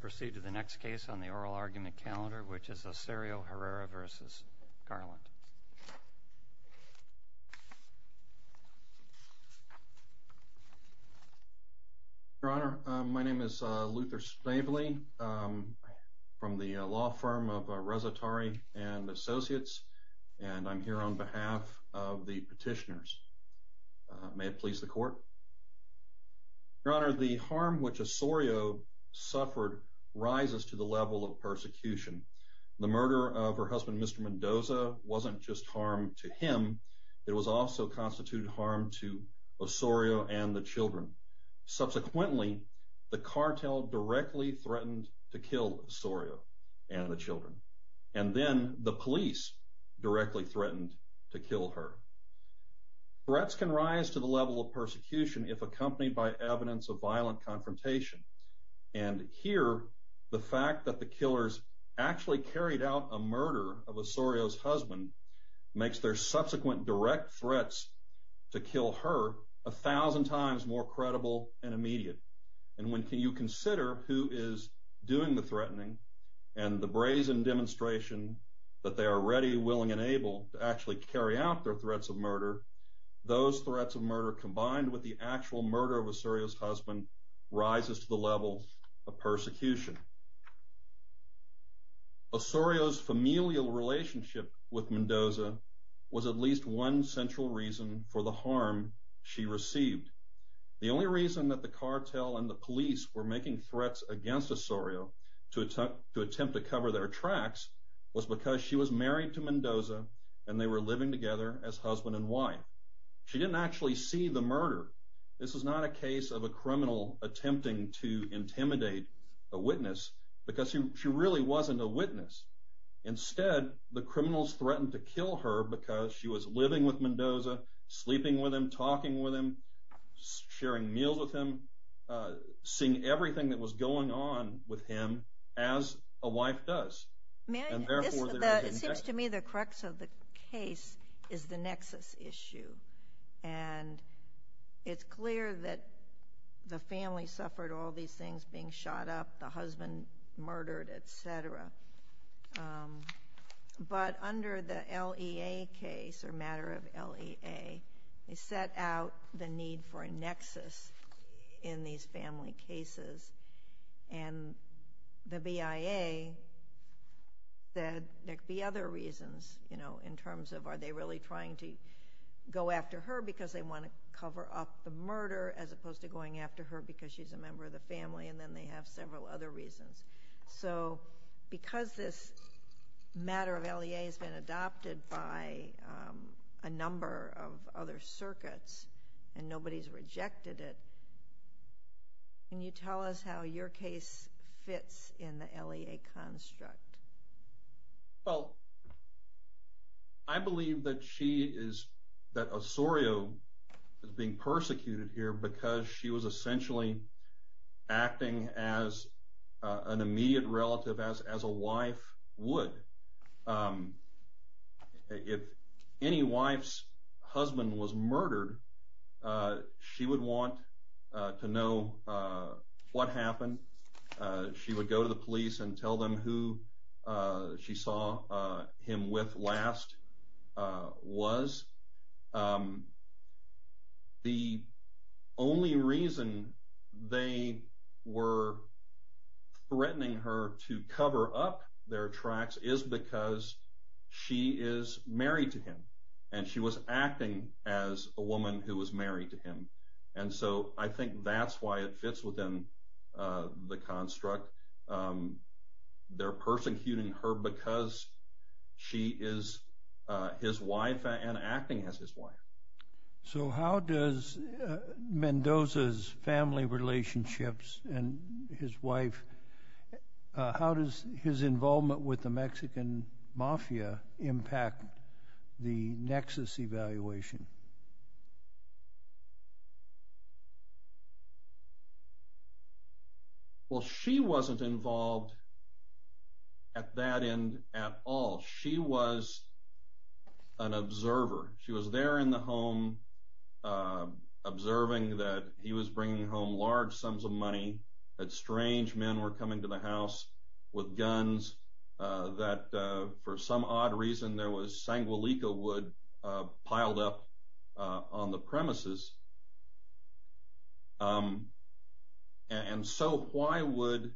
Proceed to the next case on the oral argument calendar, which is Osorio Herrera v. Garland. Your Honor, my name is Luther Snavely from the law firm of Resitari and Associates, and I'm here on behalf of the petitioners. May it please the Court? Your Honor, the harm which Osorio suffered rises to the level of persecution. The murder of her husband, Mr. Mendoza, wasn't just harm to him. It also constituted harm to Osorio and the children. Subsequently, the cartel directly threatened to kill Osorio and the children, and then the police directly threatened to kill her. Threats can rise to the level of persecution if accompanied by evidence of violent confrontation. And here, the fact that the killers actually carried out a murder of Osorio's husband makes their subsequent direct threats to kill her a thousand times more credible and immediate. And when you consider who is doing the threatening and the brazen demonstration that they are ready, willing, and able to actually carry out their threats of murder, those threats of murder combined with the actual murder of Osorio's husband rises to the level of persecution. Osorio's familial relationship with Mendoza was at least one central reason for the harm she received. The only reason that the cartel and the police were making threats against Osorio to attempt to cover their tracks was because she was married to Mendoza and they were living together as husband and wife. She didn't actually see the murder. This was not a case of a criminal attempting to intimidate a witness, because she really wasn't a witness. Instead, the criminals threatened to kill her because she was living with Mendoza, sleeping with him, talking with him, sharing meals with him, seeing everything that was going on with him as a wife does. It seems to me the crux of the case is the nexus issue. And it's clear that the family suffered all these things, being shot up, the husband murdered, et cetera. But under the LEA case or matter of LEA, they set out the need for a nexus in these family cases. And the BIA said there could be other reasons, you know, in terms of are they really trying to go after her because they want to cover up the murder as opposed to going after her because she's a member of the family, and then they have several other reasons. So because this matter of LEA has been adopted by a number of other circuits and nobody's rejected it, can you tell us how your case fits in the LEA construct? Well, I believe that she is, that Osorio is being persecuted here because she was essentially acting as an immediate relative as a wife would. If any wife's husband was murdered, she would want to know what happened. She would go to the police and tell them who she saw him with last was. The only reason they were threatening her to cover up their tracks is because she is married to him, and she was acting as a woman who was married to him. And so I think that's why it fits within the construct. They're persecuting her because she is his wife and acting as his wife. So how does Mendoza's family relationships and his wife, how does his involvement with the Mexican mafia impact the nexus evaluation? Well, she wasn't involved at that end at all. She was an observer. She was there in the home observing that he was bringing home large sums of money, that strange men were coming to the house with guns, that for some odd reason there was Sanguelica wood piled up on the premises. And so why would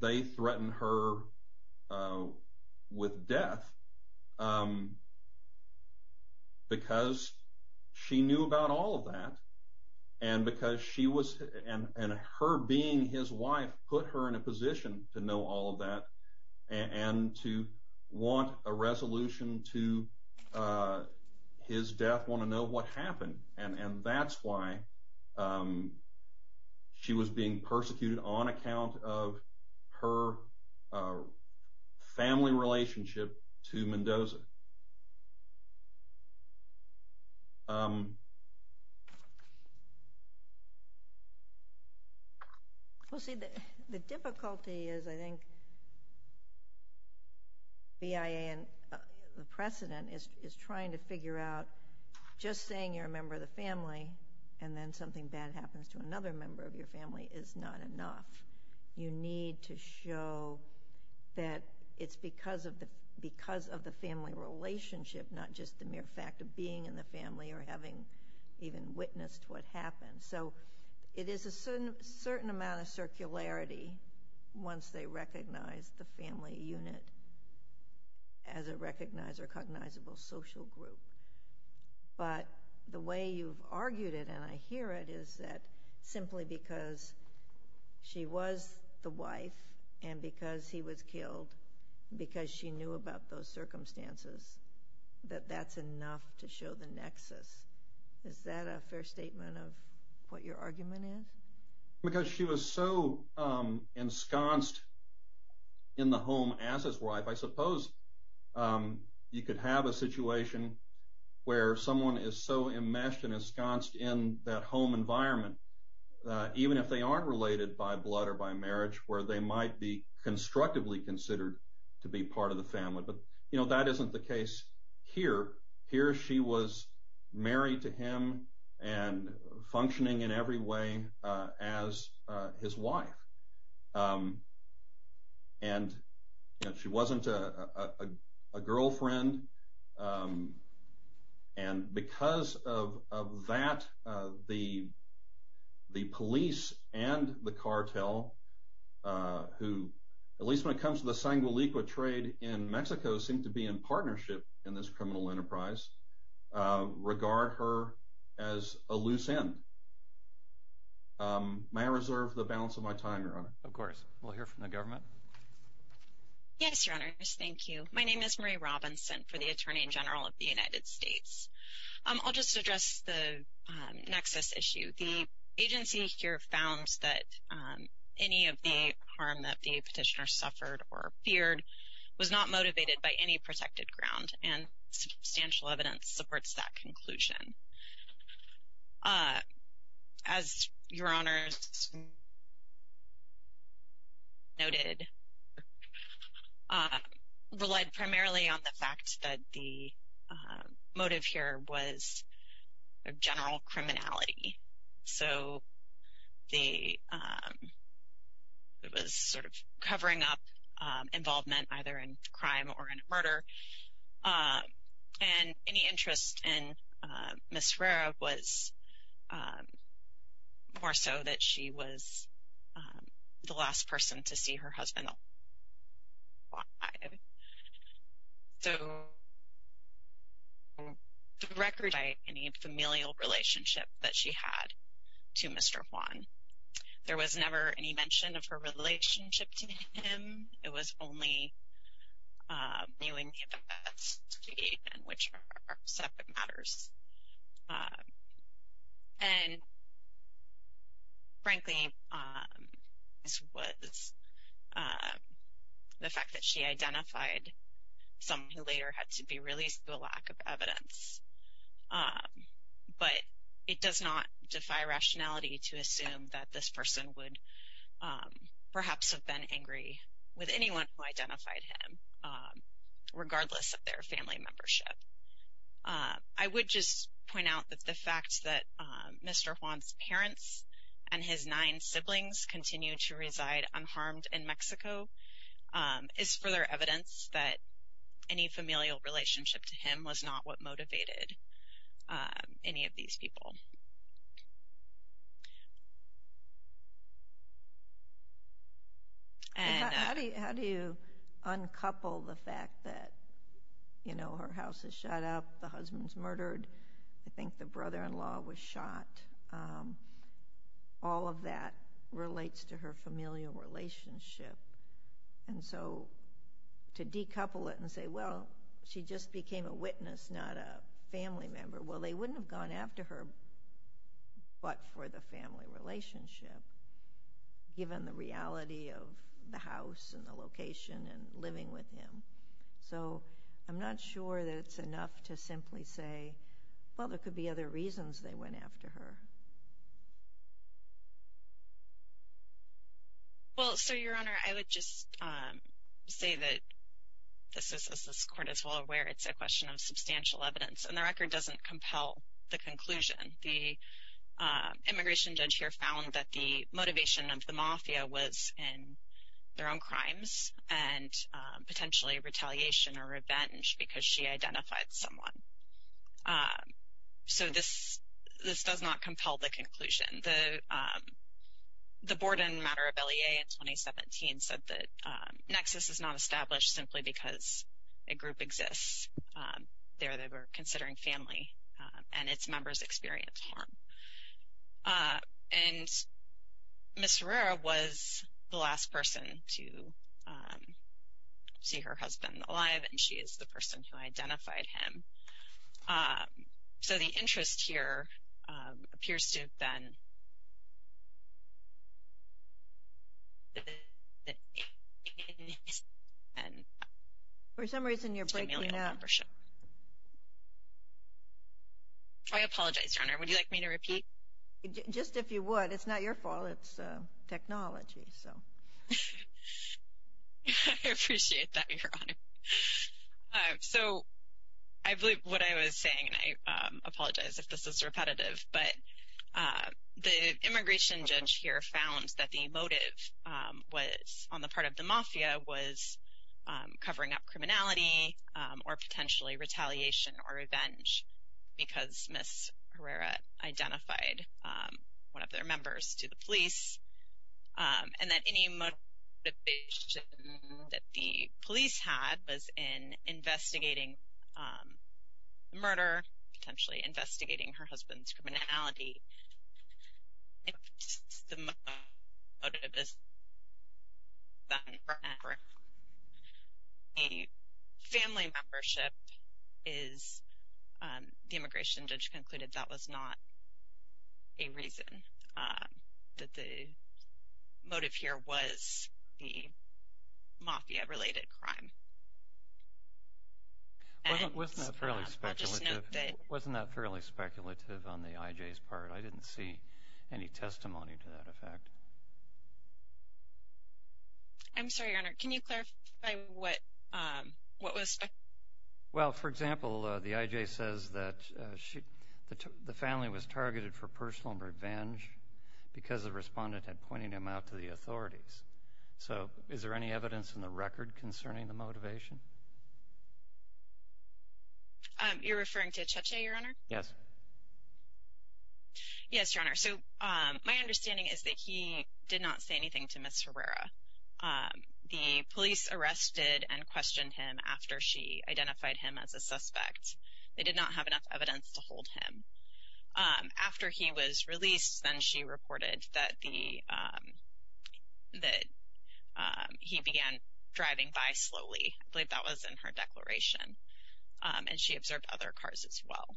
they threaten her with death? Because she knew about all of that, and her being his wife put her in a position to know all of that and to want a resolution to his death, want to know what happened. And that's why she was being persecuted on account of her family relationship to Mendoza. Well, see, the difficulty is, I think, BIA and the precedent is trying to figure out just saying you're a member of the family and then something bad happens to another member of your family is not enough. You need to show that it's because of the family relationship, not just the mere fact of being in the family or having even witnessed what happened. So it is a certain amount of circularity once they recognize the family unit as a recognizable social group. But the way you've argued it, and I hear it, is that simply because she was the wife and because he was killed, because she knew about those circumstances, that that's enough to show the nexus. Is that a fair statement of what your argument is? Because she was so ensconced in the home as his wife, I suppose you could have a situation where someone is so enmeshed and ensconced in that home environment, even if they aren't related by blood or by marriage, where they might be constructively considered to be part of the family. But that isn't the case here. Here she was married to him and functioning in every way as his wife. And she wasn't a girlfriend. And because of that, the police and the cartel, who at least when it comes to the Sangueliqua trade in Mexico, seem to be in partnership in this criminal enterprise, regard her as a loose end. May I reserve the balance of my time, Your Honor? Of course. We'll hear from the government. Yes, Your Honors. Thank you. My name is Marie Robinson for the Attorney General of the United States. I'll just address the nexus issue. The agency here found that any of the harm that the petitioner suffered or feared was not motivated by any protected ground, and substantial evidence supports that conclusion. As Your Honors noted, relied primarily on the fact that the motive here was general criminality. So it was sort of covering up involvement either in crime or in murder. And any interest in Ms. Herrera was more so that she was the last person to see her husband alive. So there was no record of any familial relationship that she had to Mr. Juan. There was never any mention of her relationship to him. It was only knowing the events to date and which are separate matters. And frankly, this was the fact that she identified someone who later had to be released due to a lack of evidence. But it does not defy rationality to assume that this person would perhaps have been angry with anyone who identified him, regardless of their family membership. I would just point out that the fact that Mr. Juan's parents and his nine siblings continue to reside unharmed in Mexico is further evidence that any familial relationship to him was not what motivated any of these people. How do you uncouple the fact that, you know, her house is shut up, the husband's murdered, I think the brother-in-law was shot, all of that relates to her familial relationship. And so to decouple it and say, well, she just became a witness, not a family member, well, they wouldn't have gone after her but for the family relationship, given the reality of the house and the location and living with him. So I'm not sure that it's enough to simply say, well, there could be other reasons they went after her. Well, so, Your Honor, I would just say that, as this Court is well aware, it's a question of substantial evidence. And the record doesn't compel the conclusion. The immigration judge here found that the motivation of the mafia was in their own crimes and potentially retaliation or revenge because she identified someone. So this does not compel the conclusion. The board in matter of LEA in 2017 said that Nexus is not established simply because a group exists there that we're considering family and its members experience harm. And Ms. Herrera was the last person to see her husband alive. And she is the person who identified him. So the interest here appears to have been family and membership. I apologize, Your Honor. Would you like me to repeat? Just if you would. It's not your fault. It's technology. I appreciate that, Your Honor. So I believe what I was saying, and I apologize if this is repetitive, but the immigration judge here found that the motive on the part of the mafia was covering up criminality or potentially retaliation or revenge because Ms. Herrera identified one of their members to the police. And that any motivation that the police had was in investigating the murder, potentially investigating her husband's criminality. If the motive is family membership, the immigration judge concluded that was not a reason, that the motive here was the mafia-related crime. Wasn't that fairly speculative on the IJ's part? I didn't see any testimony to that effect. I'm sorry, Your Honor. Can you clarify what was speculated? Well, for example, the IJ says that the family was targeted for personal revenge So is there any evidence in the record concerning the motivation? You're referring to Cheche, Your Honor? Yes. Yes, Your Honor. So my understanding is that he did not say anything to Ms. Herrera. The police arrested and questioned him after she identified him as a suspect. They did not have enough evidence to hold him. After he was released, then she reported that he began driving by slowly. I believe that was in her declaration. And she observed other cars as well.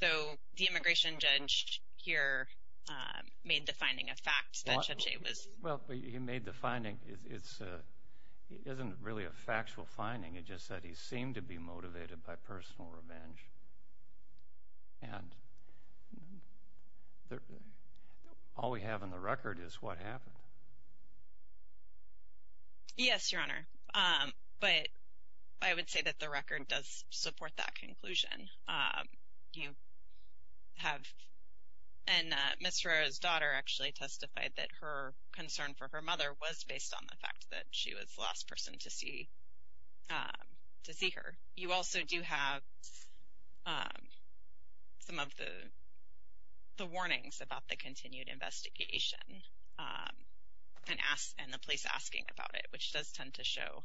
So the immigration judge here made the finding a fact that Cheche was... Well, he made the finding. It isn't really a factual finding. He just said he seemed to be motivated by personal revenge. And all we have in the record is what happened. Yes, Your Honor. But I would say that the record does support that conclusion. You have... And Ms. Herrera's daughter actually testified that her concern for her mother was based on the fact that she was the last person to see her. You also do have some of the warnings about the continued investigation and the police asking about it, which does tend to show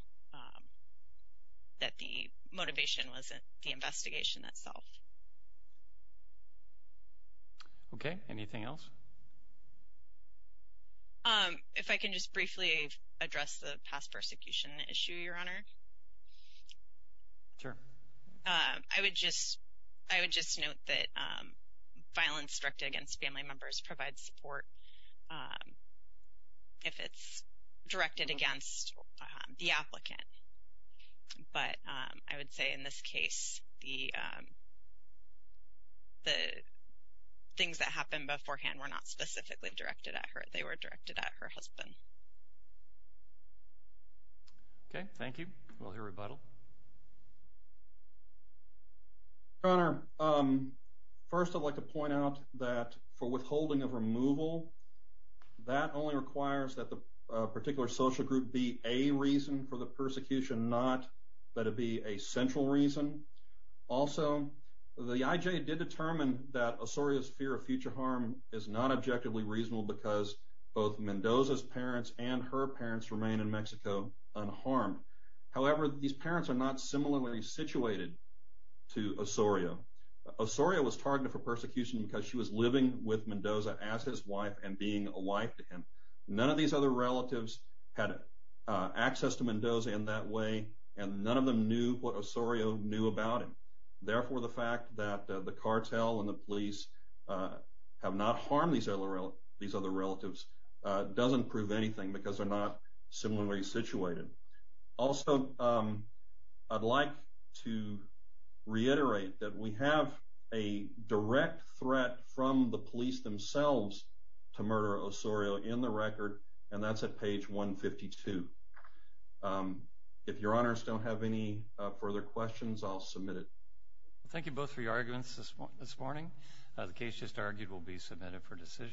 that the motivation was the investigation itself. Okay. Anything else? If I can just briefly address the past persecution issue, Your Honor. Sure. I would just note that violence directed against family members provides support if it's directed against the applicant. But I would say in this case, the things that happened beforehand were not specifically directed at her. They were directed at her husband. Okay. Thank you. We'll hear rebuttal. Your Honor, first I'd like to point out that for withholding of removal, that only requires that the particular social group be a reason for the persecution, not that it be a central reason. Also, the IJ did determine that Osorio's fear of future harm is not objectively reasonable because both Mendoza's parents and her parents remain in Mexico unharmed. However, these parents are not similarly situated to Osorio. Osorio was targeted for persecution because she was living with Mendoza as his wife and being a wife to him. None of these other relatives had access to Mendoza in that way, and none of them knew what Osorio knew about him. Therefore, the fact that the cartel and the police have not harmed these other relatives doesn't prove anything because they're not similarly situated. Also, I'd like to reiterate that we have a direct threat from the police themselves to murder Osorio in the record, and that's at page 152. If Your Honors don't have any further questions, I'll submit it. Thank you both for your arguments this morning. The case just argued will be submitted for decision.